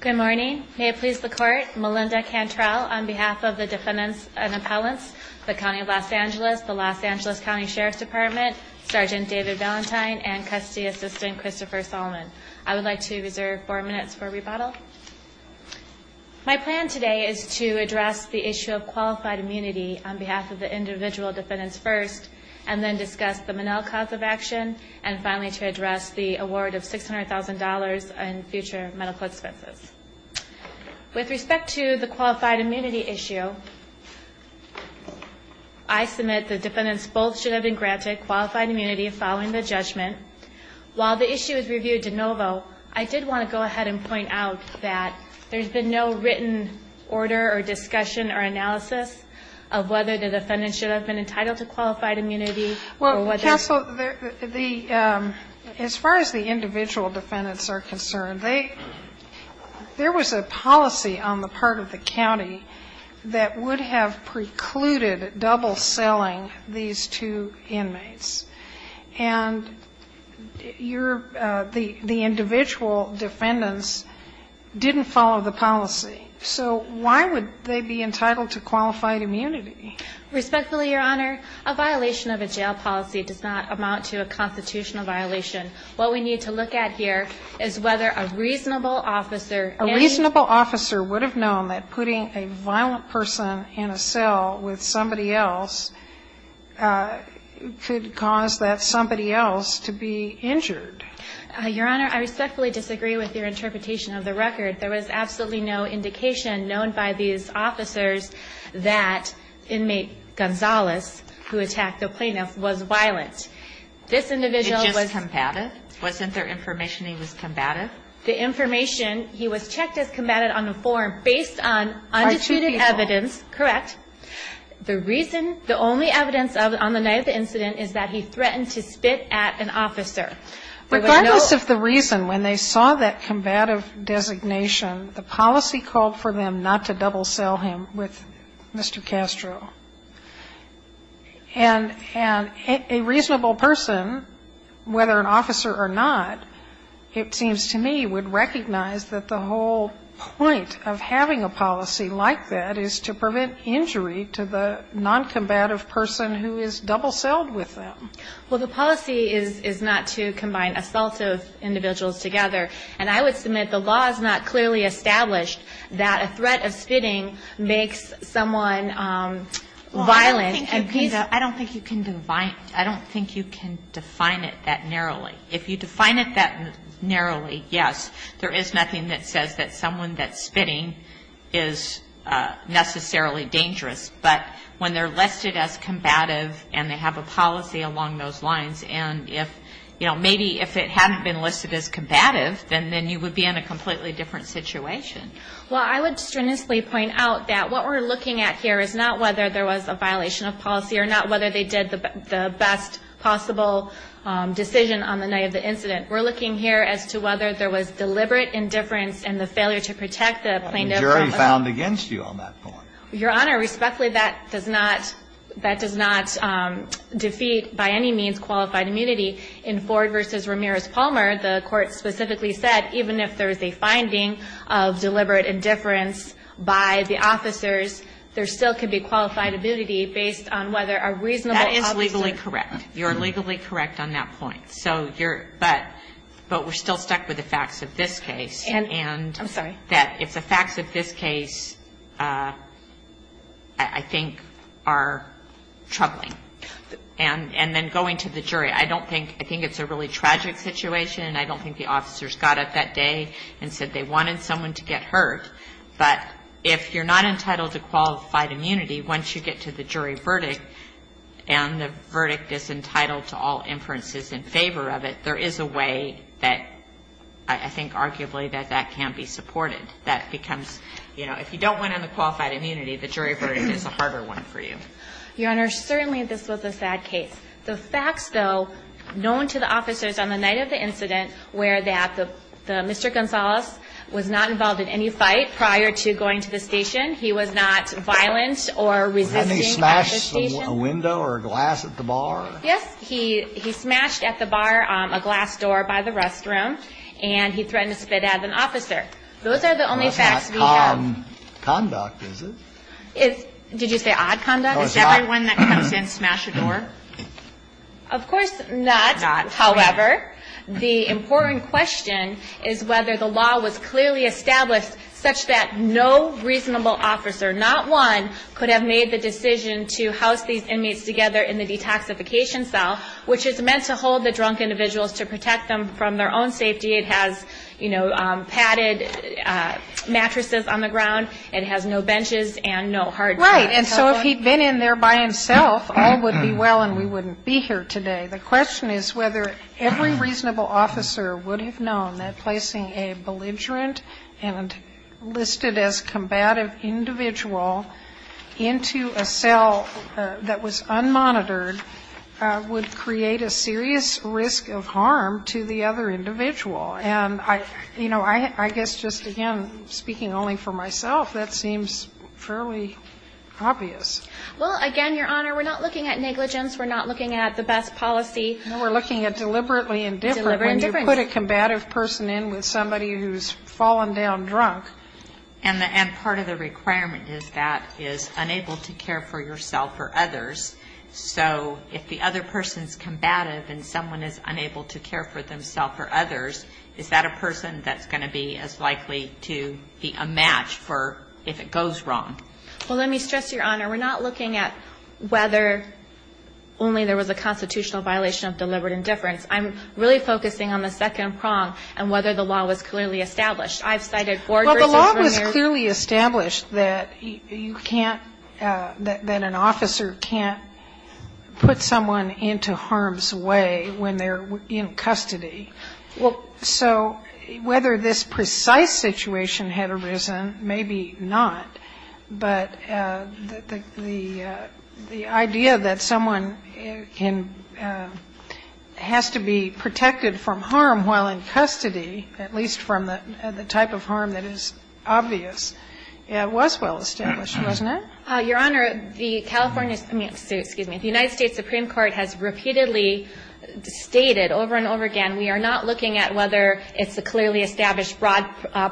Good morning. May it please the Court, Melinda Cantrell on behalf of the Defendants and Appellants, the County of Los Angeles, the Los Angeles County Sheriff's Department, Sergeant David Valentine, and Custody Assistant Christopher Solomon. I would like to reserve four minutes for rebuttal. My plan today is to address the issue of qualified immunity on behalf of the individual defendants first, and then discuss the Monell cause of action, and finally to address the award of $600,000 in future medical expenses. With respect to the qualified immunity issue, I submit that defendants both should have been granted qualified immunity following the judgment. While the issue is reviewed de novo, I did want to go ahead and point out that there's been no written order or discussion or analysis of whether the defendants should have been entitled to qualified immunity or whether they should have been entitled to qualified immunity. I think the question is, as far as the individual defendants are concerned, there was a policy on the part of the county that would have precluded double-selling these two inmates. And the individual defendants didn't follow the policy. So why would they be entitled to qualified immunity? Respectfully, Your Honor, a violation of a jail policy does not amount to a constitutional violation. What we need to look at here is whether a reasonable officer, a reasonable officer, would have known that putting a violent person in a cell with somebody else could cause that somebody else to be injured. Your Honor, I respectfully disagree with your interpretation of the record. There was absolutely no indication known by these officers that inmate Gonzalez, who attacked the plaintiff, was violent. This individual was just combative? Wasn't there information he was combative? The information, he was checked as combative on the form based on undisputed evidence. Are two people. Correct. The reason, the only evidence of it on the night of the incident is that he threatened to spit at an officer. Regardless of the reason, when they saw that combative designation, the policy called for them not to double-sell him with Mr. Castro. And a reasonable person, whether an officer or not, it seems to me would recognize that the whole point of having a policy like that is to prevent injury to the noncombative person who is double-selled with them. Well, the policy is not to combine assaultive individuals together. And I would submit the law is not clearly established that a threat of spitting makes someone violent. I don't think you can define it that narrowly. If you define it that narrowly, yes, there is nothing that says that someone that's spitting is necessarily dangerous. But when they're listed as combative and they have a policy along those lines, and if, you know, maybe if it hadn't been listed as combative, then you would be in a completely different situation. Well, I would strenuously point out that what we're looking at here is not whether there was a violation of policy or not whether they did the best possible decision on the night of the incident. We're looking here as to whether there was deliberate indifference and the failure to protect the plaintiff. The jury found against you on that point. Your Honor, respectfully, that does not defeat by any means qualified immunity. In Ford v. Ramirez Palmer, the Court specifically said even if there is a finding of deliberate indifference by the officers, there still could be qualified immunity based on whether a reasonable officer That is legally correct. You're legally correct on that point. But we're still stuck with the facts of this case. I'm sorry. And that if the facts of this case, I think, are troubling. And then going to the jury, I think it's a really tragic situation, I don't think the officers got up that day and said they wanted someone to get hurt. But if you're not entitled to qualified immunity, once you get to the jury verdict and the verdict is entitled to all inferences in favor of it, there is a way that I think arguably that that can't be supported. That becomes, you know, if you don't win on the qualified immunity, the jury verdict is a harder one for you. Your Honor, certainly this was a sad case. The facts, though, known to the officers on the night of the incident were that Mr. Gonzalez was not involved in any fight prior to going to the station. He was not violent or resisting at the station. Hadn't he smashed a window or a glass at the bar? Yes. He smashed at the bar a glass door by the restroom, and he threatened to spit at an officer. Those are the only facts we have. That's not calm conduct, is it? Did you say odd conduct? Is everyone that comes in smash a door? Of course not. However, the important question is whether the law was clearly established such that no reasonable officer, not one, could have made the decision to house these inmates together in the detoxification cell, which is meant to hold the drunk individuals to protect them from their own safety. It has, you know, padded mattresses on the ground. It has no benches and no hard mats. Right. And so if he'd been in there by himself, all would be well and we wouldn't be here today. The question is whether every reasonable officer would have known that placing a belligerent and listed as combative individual into a cell that was unmonitored would create a serious risk of harm to the other individual. And I, you know, I guess just again, speaking only for myself, that seems fairly obvious. Well, again, Your Honor, we're not looking at negligence. We're not looking at the best policy. No, we're looking at deliberately indifferent. Deliberate indifference. When you put a combative person in with somebody who's fallen down drunk. And part of the requirement is that is unable to care for yourself or others. So if the other person's combative and someone is unable to care for themselves or others, is that a person that's going to be as likely to be a match for if it goes wrong? Well, let me stress, Your Honor, we're not looking at whether only there was a constitutional violation of deliberate indifference. I'm really focusing on the second prong and whether the law was clearly established. Well, the law was clearly established that you can't, that an officer can't put someone into harm's way when they're in custody. So whether this precise situation had arisen, maybe not, but the idea that someone has to be protected from harm while in custody, at least from the type of harm that is obvious, was well established, wasn't it? Your Honor, the California, excuse me, the United States Supreme Court has repeatedly stated over and over again, we are not looking at whether it's a clearly established broad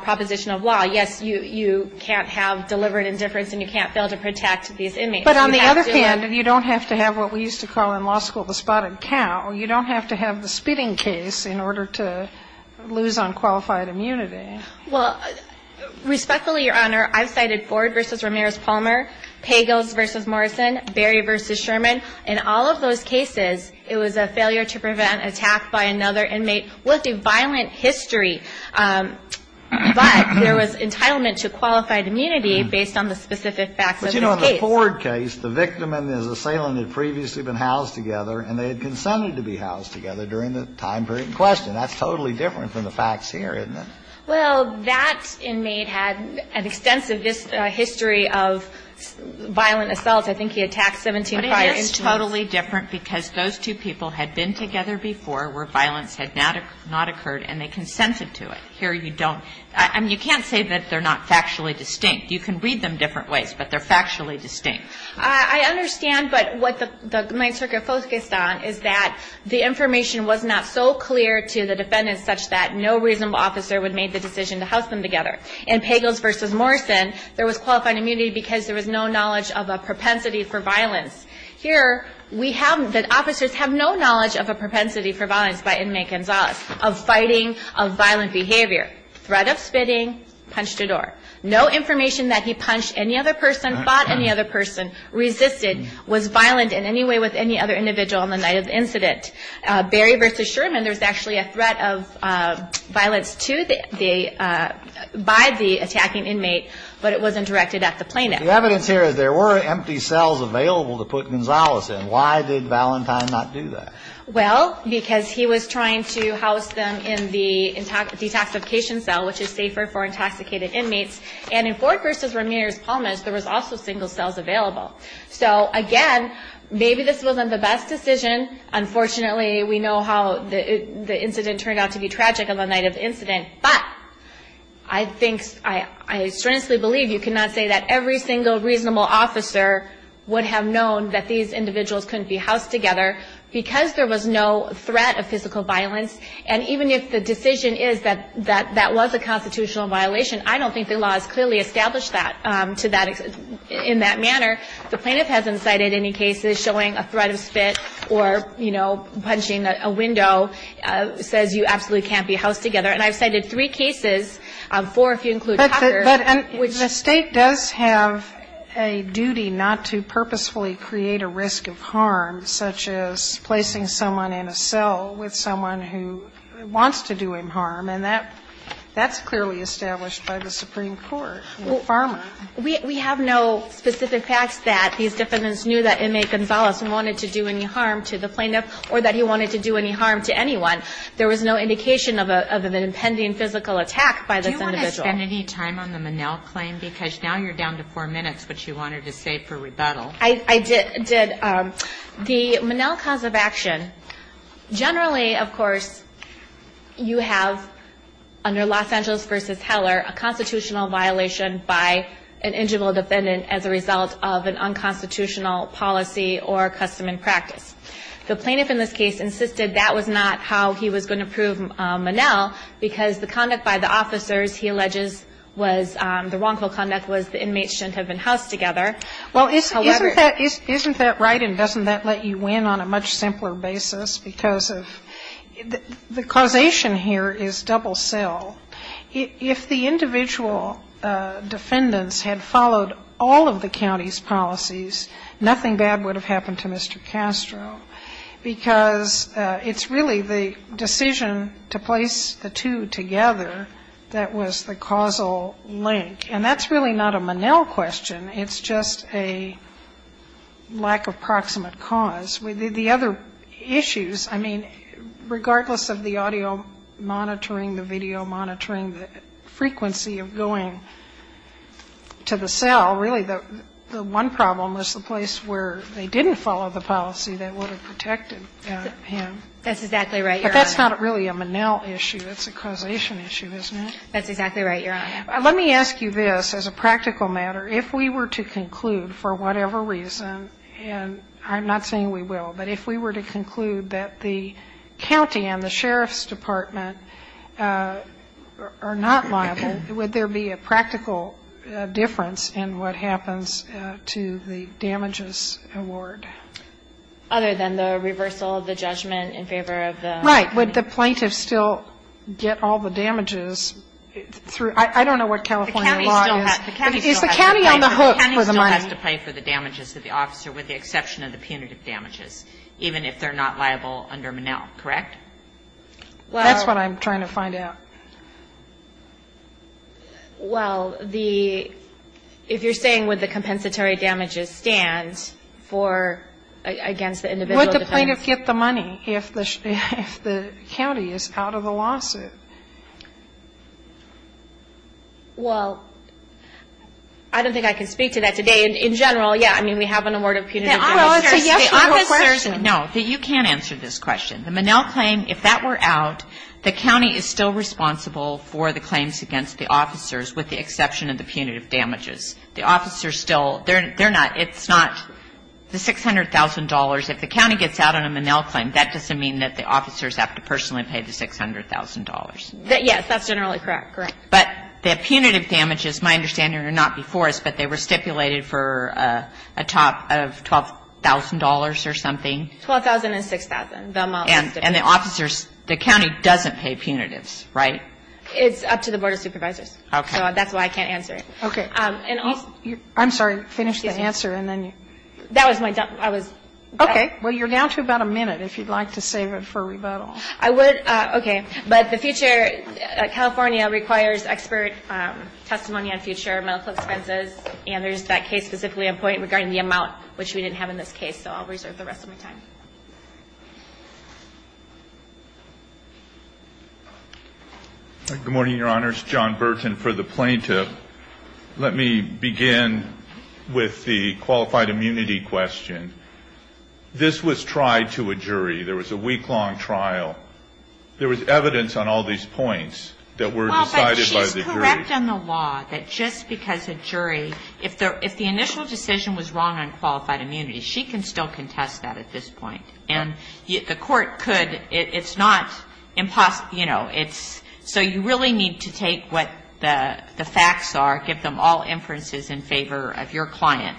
proposition of law. Yes, you can't have deliberate indifference and you can't fail to protect these inmates. But on the other hand, you don't have to have what we used to call in law school the spotted cow. You don't have to have the spitting case in order to lose unqualified immunity. Well, respectfully, Your Honor, I've cited Ford v. Ramirez-Palmer, Pagos v. Morrison, Berry v. Sherman. In all of those cases, it was a failure to prevent attack by another inmate with a violent history. But there was entitlement to qualified immunity based on the specific facts of this case. But, you know, in the Ford case, the victim and his assailant had previously been housed together and they had consented to be housed together during the time period in question. That's totally different from the facts here, isn't it? Well, that inmate had an extensive history of violent assaults. I think he attacked 17 prior instruments. But it is totally different because those two people had been together before where violence had not occurred and they consented to it. Here you don't. I mean, you can't say that they're not factually distinct. You can read them different ways, but they're factually distinct. I understand, but what the Main Circuit focused on is that the information was not so clear to the defendants such that no reasonable officer would make the decision to house them together. In Pagos v. Morrison, there was qualified immunity because there was no knowledge of a propensity for violence. Here we have that officers have no knowledge of a propensity for violence by inmate Gonzalez, of fighting, of violent behavior, threat of spitting, punch to door. No information that he punched any other person, fought any other person, resisted, was violent in any way with any other individual on the night of the incident. Barry v. Sherman, there was actually a threat of violence by the attacking inmate, but it wasn't directed at the plaintiff. The evidence here is there were empty cells available to put Gonzalez in. Why did Valentine not do that? Well, because he was trying to house them in the detoxification cell, which is safer for intoxicated inmates. And in Ford v. Ramirez-Palmes, there was also single cells available. So, again, maybe this wasn't the best decision. Unfortunately, we know how the incident turned out to be tragic on the night of the incident. But I think, I strenuously believe you cannot say that every single reasonable officer would have known that these individuals couldn't be housed together because there was no threat of physical violence. And even if the decision is that that was a constitutional violation, I don't think the law has clearly established that to that extent, in that manner. The plaintiff hasn't cited any cases showing a threat of spit or, you know, punching a window says you absolutely can't be housed together. And I've cited three cases, four if you include Hopper. But the State does have a duty not to purposefully create a risk of harm, such as placing someone in a cell with someone who wants to do him harm. And that's clearly established by the Supreme Court with Pharma. We have no specific facts that these defendants knew that inmate Gonzalez wanted to do any harm to the plaintiff or that he wanted to do any harm to anyone. There was no indication of an impending physical attack by this individual. Do you want to spend any time on the Monell claim? Because now you're down to four minutes, which you wanted to save for rebuttal. I did. The Monell cause of action, generally, of course, you have, under Los Angeles v. Heller, a constitutional violation by an individual defendant as a result of an unconstitutional policy or custom and practice. The plaintiff in this case insisted that was not how he was going to prove Monell because the conduct by the officers he alleges was the wrongful conduct was the inmates shouldn't have been housed together. Well, isn't that right and doesn't that let you win on a much simpler basis because of the causation here is double cell. If the individual defendants had followed all of the county's policies, nothing bad would have happened to Mr. Castro, because it's really the decision to place the two together that was the causal link. And that's really not a Monell question. It's just a lack of proximate cause. The other issues, I mean, regardless of the audio monitoring, the video monitoring, the frequency of going to the cell, really the one problem was the place where they didn't follow the policy that would have protected him. That's exactly right, Your Honor. But that's not really a Monell issue. It's a causation issue, isn't it? That's exactly right, Your Honor. Let me ask you this as a practical matter. If we were to conclude for whatever reason, and I'm not saying we will, but if we were to conclude that the county and the sheriff's department are not liable, would there be a practical difference in what happens to the damages award? Other than the reversal of the judgment in favor of the plaintiff. Right. Would the plaintiff still get all the damages through? I don't know what California law is. Is the county on the hook for the money? The county still has to pay for the damages to the officer with the exception of the punitive damages, even if they're not liable under Monell, correct? That's what I'm trying to find out. Well, the ‑‑ if you're saying would the compensatory damages stand for against the individual defendants. Would the plaintiff get the money if the county is out of the lawsuit? Well, I don't think I can speak to that today. In general, yeah, I mean, we have an award of punitive damages. Well, it's a yes or no question. No, you can't answer this question. The Monell claim, if that were out, the county is still responsible for the claims against the officers with the exception of the punitive damages. The officers still, they're not, it's not the $600,000. If the county gets out on a Monell claim, that doesn't mean that the officers have to personally pay the $600,000. Yes, that's generally correct, correct. But the punitive damages, my understanding, are not before us, but they were stipulated for a top of $12,000 or something? $12,000 and $6,000. And the officers, the county doesn't pay punitives, right? It's up to the Board of Supervisors. Okay. So that's why I can't answer it. Okay. I'm sorry, finish the answer and then you. That was my, I was. Okay. Well, you're down to about a minute if you'd like to save it for rebuttal. I would, okay. But the future, California requires expert testimony on future medical expenses, and there's that case specifically in point regarding the amount, which we didn't have in this case. So I'll reserve the rest of my time. Good morning, Your Honors. John Burton for the plaintiff. Let me begin with the qualified immunity question. This was tried to a jury. There was a week-long trial. There was evidence on all these points that were decided by the jury. Well, but she's correct on the law that just because a jury, if the initial decision was wrong on qualified immunity, she can still contest that at this point. And the court could, it's not impossible, you know, it's, so you really need to take what the facts are, give them all inferences in favor of your client,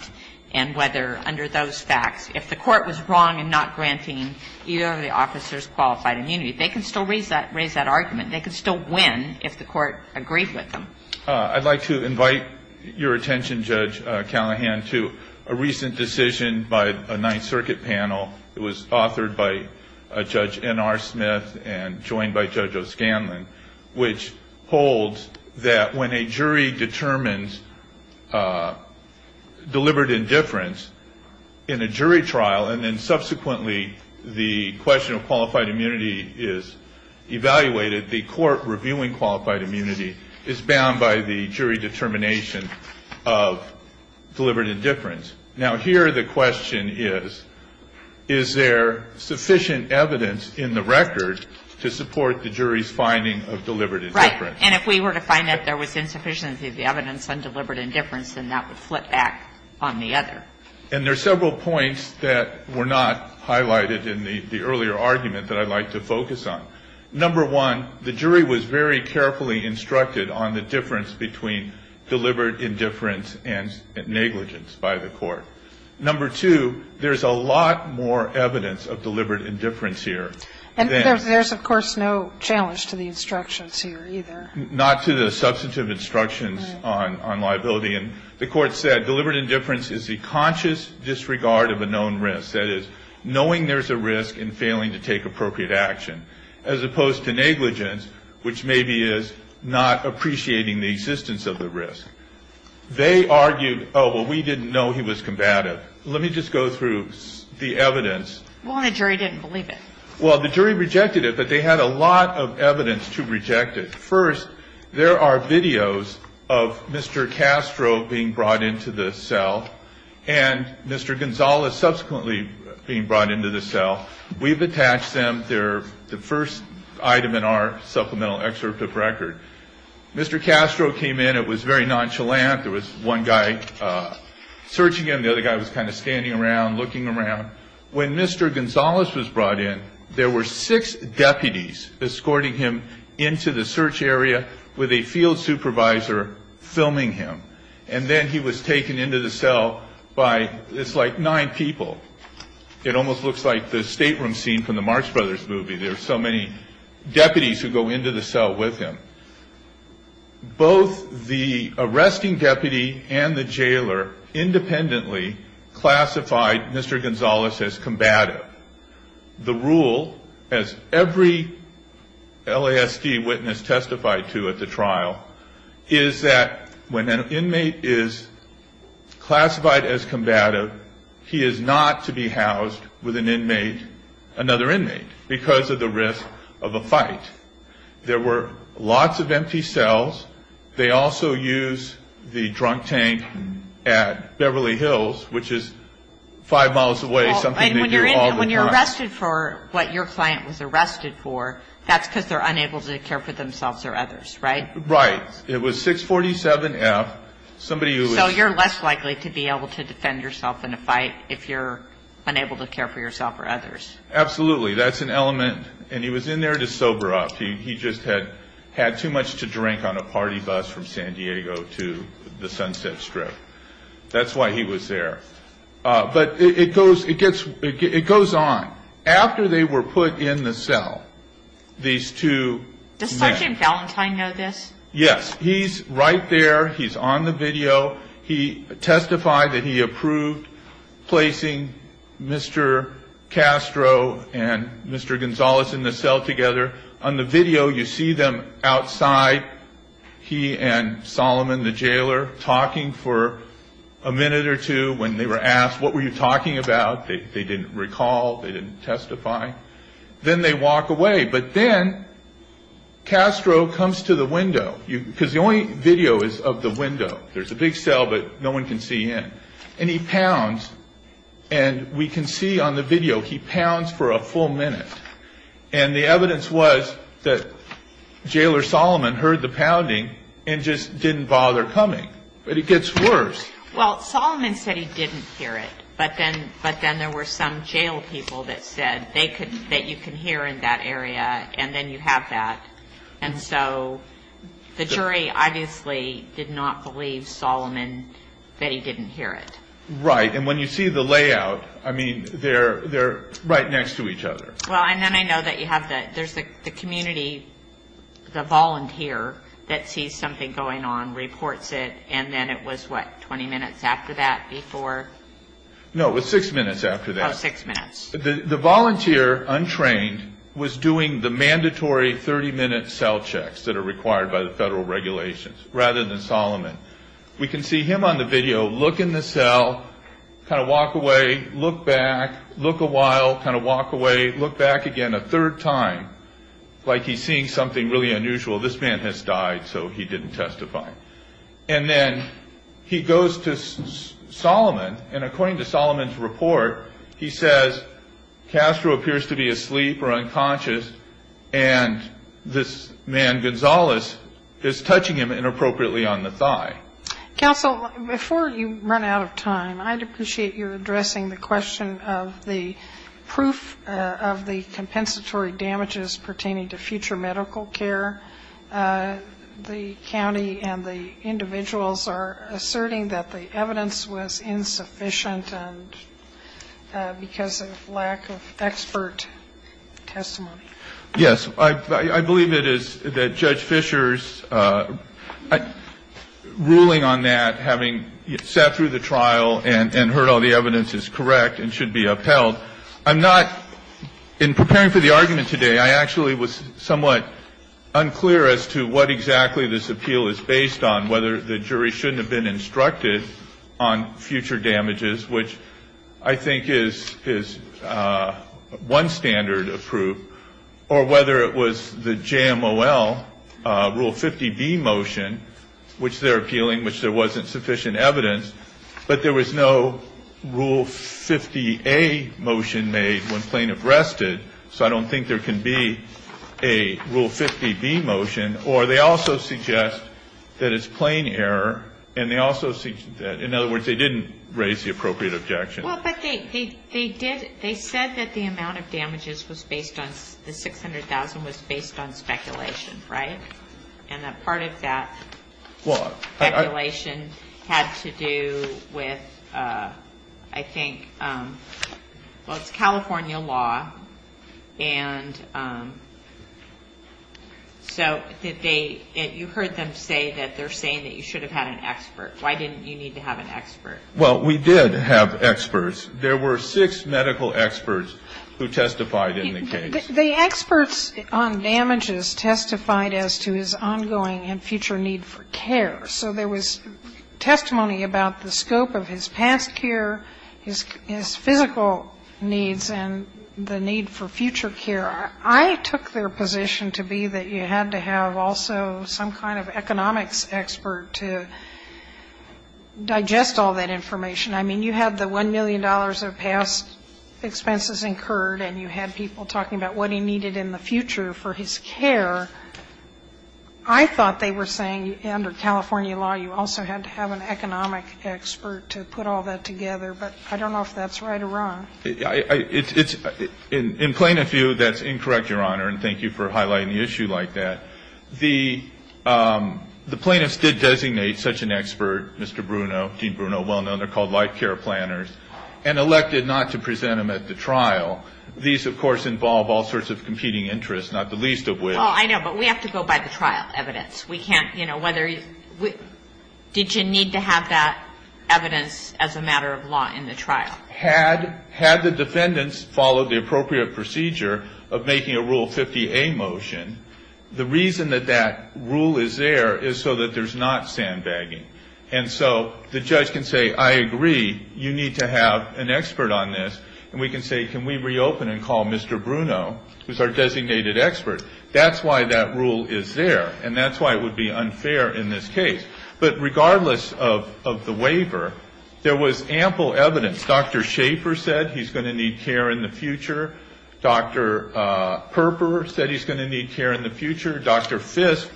and whether under those facts, if the court was wrong in not granting either of the officers qualified immunity, they can still raise that argument. They can still win if the court agreed with them. I'd like to invite your attention, Judge Callahan, to a recent decision by a Ninth Circuit panel. It was authored by Judge N.R. Smith and joined by Judge O'Scanlan, which holds that when a jury determines deliberate indifference in a jury trial, and then subsequently the question of qualified immunity is evaluated, the court reviewing qualified immunity is bound by the jury determination of deliberate indifference. Now, here the question is, is there sufficient evidence in the record to support the jury's finding of deliberate indifference? Right. And if we were to find that there was insufficiency of the evidence on deliberate indifference, then that would flip back on the other. And there are several points that were not highlighted in the earlier argument that I'd like to focus on. Number one, the jury was very carefully instructed on the difference between deliberate indifference and negligence by the court. Number two, there's a lot more evidence of deliberate indifference here than the instructions here either. Not to the substantive instructions on liability. And the court said deliberate indifference is the conscious disregard of a known risk. That is, knowing there's a risk and failing to take appropriate action, as opposed to negligence, which maybe is not appreciating the existence of the risk. They argued, oh, well, we didn't know he was combative. Let me just go through the evidence. Well, and the jury didn't believe it. Well, the jury rejected it, but they had a lot of evidence to reject it. First, there are videos of Mr. Castro being brought into the cell and Mr. Gonzalez subsequently being brought into the cell. We've attached them. They're the first item in our supplemental excerpt of record. Mr. Castro came in. It was very nonchalant. There was one guy searching him. The other guy was kind of standing around, looking around. When Mr. Gonzalez was brought in, there were six deputies escorting him into the search area with a field supervisor filming him. And then he was taken into the cell by, it's like, nine people. It almost looks like the stateroom scene from the Marx Brothers movie. There are so many deputies who go into the cell with him. Both the arresting deputy and the jailer independently classified Mr. Gonzalez as combative. The rule, as every LASD witness testified to at the trial, is that when an inmate is classified as combative, he is not to be housed with an inmate, another inmate, because of the risk of a fight. There were lots of empty cells. They also use the drunk tank at Beverly Hills, which is five miles away, something they do all the time. And when you're arrested for what your client was arrested for, that's because they're unable to care for themselves or others, right? Right. It was 647F. So you're less likely to be able to defend yourself in a fight if you're unable to care for yourself or others. Absolutely. That's an element. And he was in there to sober up. He just had too much to drink on a party bus from San Diego to the Sunset Strip. That's why he was there. But it goes on. After they were put in the cell, these two men. Does Sergeant Valentine know this? Yes. He's right there. He's on the video. He testified that he approved placing Mr. Castro and Mr. Gonzalez in the cell together. On the video, you see them outside. He and Solomon, the jailer, talking for a minute or two when they were asked, what were you talking about? They didn't recall. They didn't testify. Then they walk away. But then Castro comes to the window. Because the only video is of the window. There's a big cell, but no one can see in. And he pounds. And we can see on the video, he pounds for a full minute. And the evidence was that Jailer Solomon heard the pounding and just didn't bother coming. But it gets worse. Well, Solomon said he didn't hear it. But then there were some jail people that said that you can hear in that area and then you have that. And so the jury obviously did not believe Solomon that he didn't hear it. Right. And when you see the layout, I mean, they're right next to each other. Well, and then I know that you have the community, the volunteer, that sees something going on, reports it, and then it was, what, 20 minutes after that before? No, it was six minutes after that. Oh, six minutes. The volunteer, untrained, was doing the mandatory 30-minute cell checks that are required by the federal regulations rather than Solomon. We can see him on the video, look in the cell, kind of walk away, look back, look a while, kind of walk away, look back again a third time, like he's seeing something really unusual. This man has died, so he didn't testify. And then he goes to Solomon, and according to Solomon's report, he says, Castro appears to be asleep or unconscious, and this man Gonzales is touching him inappropriately on the thigh. Counsel, before you run out of time, I'd appreciate your addressing the question of the proof of the compensatory damages pertaining to future medical care. The county and the individuals are asserting that the evidence was insufficient because of lack of expert testimony. Yes. I believe it is that Judge Fischer's ruling on that, having sat through the trial and heard all the evidence, is correct and should be upheld. I'm not, in preparing for the argument today, I actually was somewhat unclear as to what exactly this appeal is based on, whether the jury shouldn't have been instructed on future damages, which I think is one standard of proof, or whether it was the JMOL Rule 50B motion, which they're appealing, which there wasn't sufficient evidence. But there was no Rule 50A motion made when Plaintiff rested, so I don't think there can be a Rule 50B motion. Or they also suggest that it's plain error, and they also, in other words, they didn't raise the appropriate objection. Well, but they did, they said that the amount of damages was based on, the $600,000 was based on speculation, right? And that part of that speculation had to do with, I think, well, it's California law, and so did they, you heard them say that they're saying that you should have had an expert. Why didn't you need to have an expert? Well, we did have experts. There were six medical experts who testified in the case. The experts on damages testified as to his ongoing and future need for care. So there was testimony about the scope of his past care, his physical needs, and the need for future care. I took their position to be that you had to have also some kind of economics expert to digest all that information. I mean, you had the $1 million of past expenses incurred, and you had people talking about what he needed in the future for his care. I thought they were saying under California law you also had to have an economic expert to put all that together. But I don't know if that's right or wrong. It's, in plaintiff view, that's incorrect, Your Honor, and thank you for highlighting the issue like that. The plaintiffs did designate such an expert, Mr. Bruno, Dean Bruno, well known. They're called life care planners, and elected not to present him at the trial. These, of course, involve all sorts of competing interests, not the least of which. Oh, I know, but we have to go by the trial evidence. We can't, you know, whether you need to have that evidence as a matter of law in the trial. Had the defendants followed the appropriate procedure of making a Rule 50A motion, the reason that that rule is there is so that there's not sandbagging. And so the judge can say, I agree, you need to have an expert on this. And we can say, can we reopen and call Mr. Bruno, who's our designated expert? That's why that rule is there, and that's why it would be unfair in this case. But regardless of the waiver, there was ample evidence. Dr. Schaffer said he's going to need care in the future. Dr. Perper said he's going to need care in the future. Dr. Fisk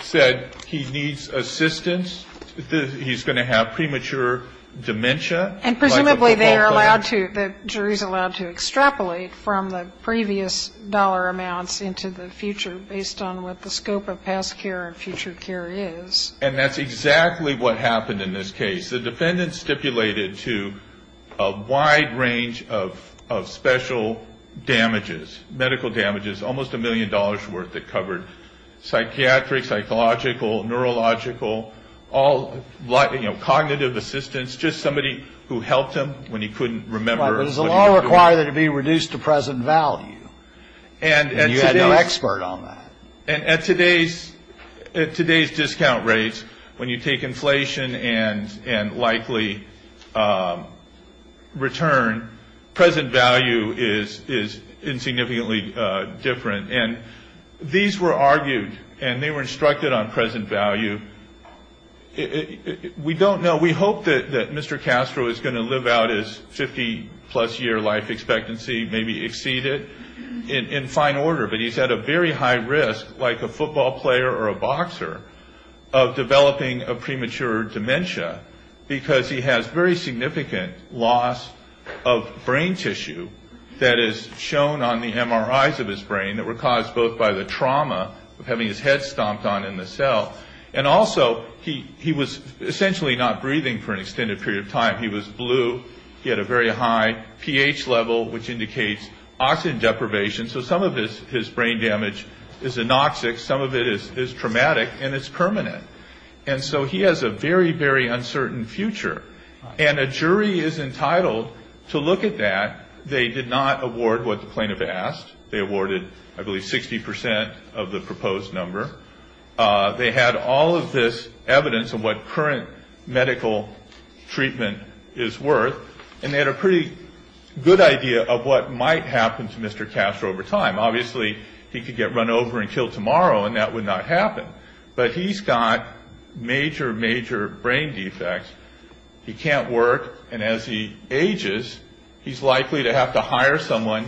said he needs assistance. He's going to have premature dementia. And presumably they are allowed to, the jury's allowed to extrapolate from the previous dollar amounts into the future based on what the scope of past care and future care is. And that's exactly what happened in this case. The defendants stipulated to a wide range of special damages, medical damages, almost a million dollars' worth that covered psychiatric, psychological, neurological, all cognitive assistance, just somebody who helped him when he couldn't remember. Right. But does the law require that it be reduced to present value? And you had no expert on that. And at today's discount rates, when you take inflation and likely return, present value is insignificantly different. And these were argued and they were instructed on present value. We don't know. We hope that Mr. Castro is going to live out his 50-plus year life expectancy, maybe exceed it in fine order. But he's at a very high risk, like a football player or a boxer, of developing a premature dementia, because he has very significant loss of brain tissue that is shown on the MRIs of his brain that were caused both by the trauma of having his head stomped on in the cell, and also he was essentially not breathing for an extended period of time. He was blue. He had a very high pH level, which indicates oxygen deprivation. So some of his brain damage is anoxic, some of it is traumatic, and it's permanent. And so he has a very, very uncertain future. And a jury is entitled to look at that. They did not award what the plaintiff asked. They awarded, I believe, 60% of the proposed number. They had all of this evidence of what current medical treatment is worth, and they had a pretty good idea of what might happen to Mr. Castro over time. Obviously, he could get run over and killed tomorrow, and that would not happen. But he's got major, major brain defects. He can't work. And as he ages, he's likely to have to hire someone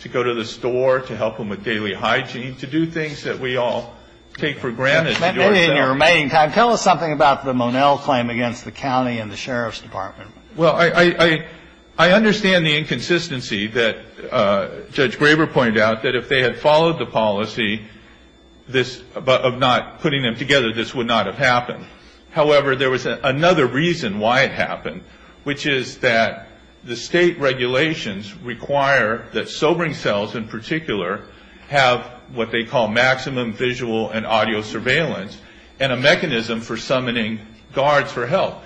to go to the store to help him with daily hygiene, to do things that we all take for granted. In your remaining time, tell us something about the Monell claim against the county and the sheriff's department. Well, I understand the inconsistency that Judge Graber pointed out, that if they had followed the policy of not putting them together, this would not have happened. However, there was another reason why it happened, which is that the state regulations require that sobering cells, in particular, have what they call maximum visual and audio surveillance and a mechanism for summoning guards for help.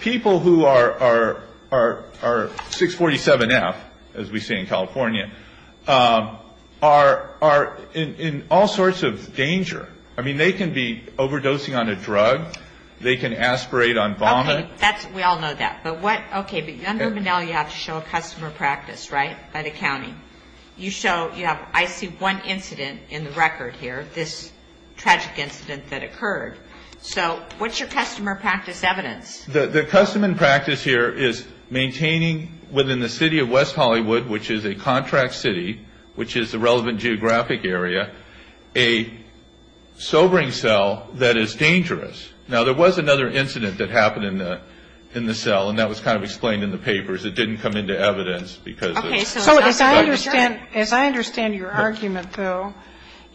People who are 647F, as we say in California, are in all sorts of danger. I mean, they can be overdosing on a drug. They can aspirate on vomit. Okay, we all know that. But under Monell, you have to show a customer practice, right, by the county? I see one incident in the record here, this tragic incident that occurred. So what's your customer practice evidence? The customer practice here is maintaining within the city of West Hollywood, which is a contract city, which is the relevant geographic area, a sobering cell that is dangerous. Now, there was another incident that happened in the cell, and that was kind of explained in the papers. It didn't come into evidence because of the drug. So as I understand your argument, though,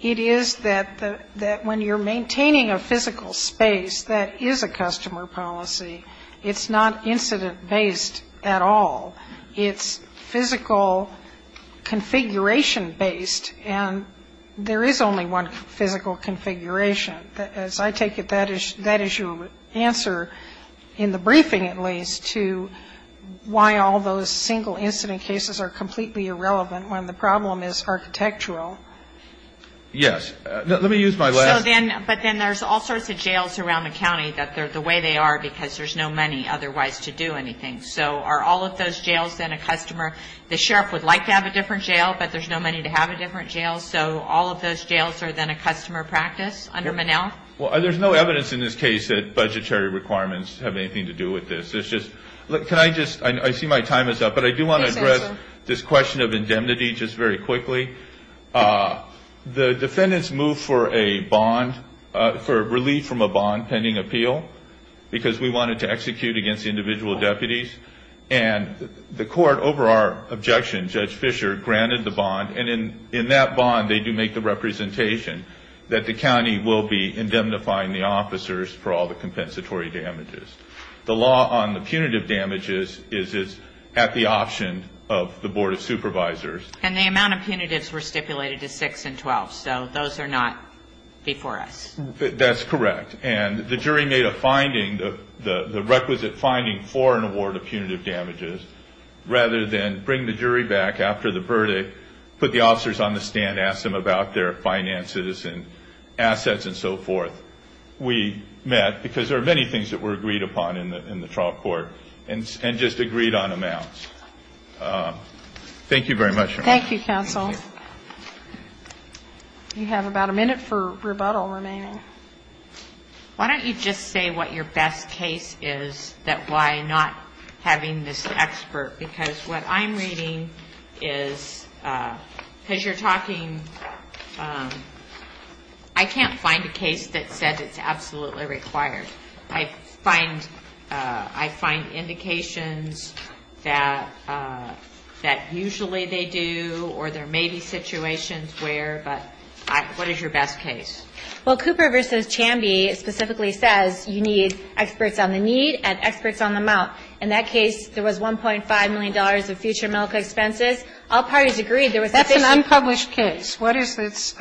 it is that when you're maintaining a physical space that is a customer policy, it's not incident-based at all. It's physical configuration-based. And there is only one physical configuration. As I take it, that is your answer, in the briefing at least, to why all those single incident cases are completely irrelevant when the problem is architectural. Yes. Let me use my last one. But then there's all sorts of jails around the county that they're the way they are because there's no money otherwise to do anything. So are all of those jails then a customer? The sheriff would like to have a different jail, but there's no money to have a different jail. So all of those jails are then a customer practice under Monell? Well, there's no evidence in this case that budgetary requirements have anything to do with this. Can I just – I see my time is up, but I do want to address this question of indemnity just very quickly. The defendants moved for a bond, for relief from a bond pending appeal, because we wanted to execute against the individual deputies. And the court, over our objection, Judge Fischer, granted the bond. And in that bond they do make the representation that the county will be indemnifying the officers for all the compensatory damages. The law on the punitive damages is at the option of the Board of Supervisors. And the amount of punitives were stipulated as 6 and 12. So those are not before us. That's correct. And the jury made a finding, the requisite finding for an award of punitive damages, rather than bring the jury back after the verdict, put the officers on the stand, ask them about their finances and assets and so forth. We met, because there are many things that were agreed upon in the trial court, and just agreed on amounts. Thank you very much. Thank you, counsel. You have about a minute for rebuttal remaining. Why don't you just say what your best case is, that why not having this expert? Because what I'm reading is, because you're talking, I can't find a case that said it's absolutely required. I find indications that usually they do or there may be situations where, but what is your best case? Well, Cooper v. Chambie specifically says you need experts on the need and experts on the amount. In that case, there was $1.5 million of future medical expenses. All parties agreed. That's an unpublished case. What is its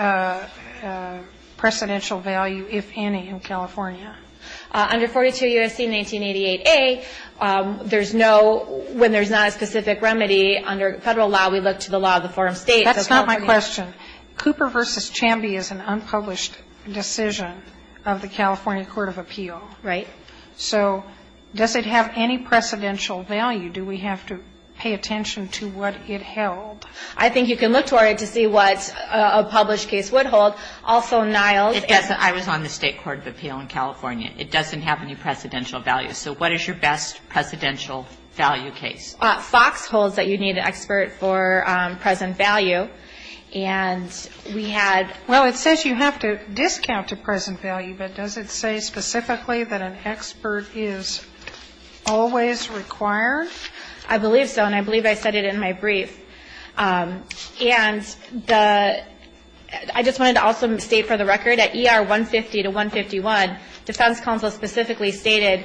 precedential value, if any, in California? Under 42 U.S.C. 1988a, there's no, when there's not a specific remedy, under Federal law, we look to the law of the foreign states. That's not my question. Cooper v. Chambie is an unpublished decision of the California Court of Appeal. Right. So does it have any precedential value? Do we have to pay attention to what it held? I think you can look toward it to see what a published case would hold. Also, Niles. It doesn't. I was on the State Court of Appeal in California. It doesn't have any precedential value. So what is your best precedential value case? FOX holds that you need an expert for present value. And we had ---- Well, it says you have to discount to present value, but does it say specifically that an expert is always required? I believe so, and I believe I said it in my brief. And I just wanted to also state for the record, at ER 150 to 151, defense counsel specifically stated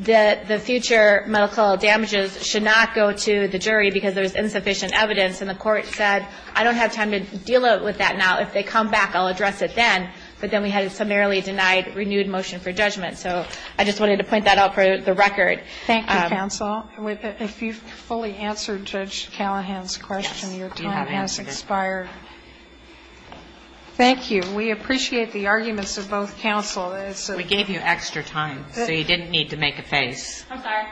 that the future medical damages should not go to the jury because there's insufficient evidence. And the Court said, I don't have time to deal with that now. If they come back, I'll address it then. But then we had a summarily denied renewed motion for judgment. So I just wanted to point that out for the record. Thank you, counsel. If you've fully answered Judge Callahan's question, your time has expired. Thank you. We appreciate the arguments of both counsel. We gave you extra time, so you didn't need to make a face. I'm sorry.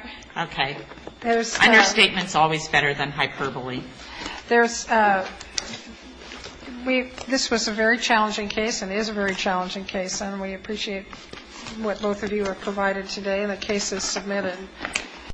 Okay. Understatement is always better than hyperbole. This was a very challenging case and is a very challenging case, and we appreciate what both of you have provided today. And the case is submitted.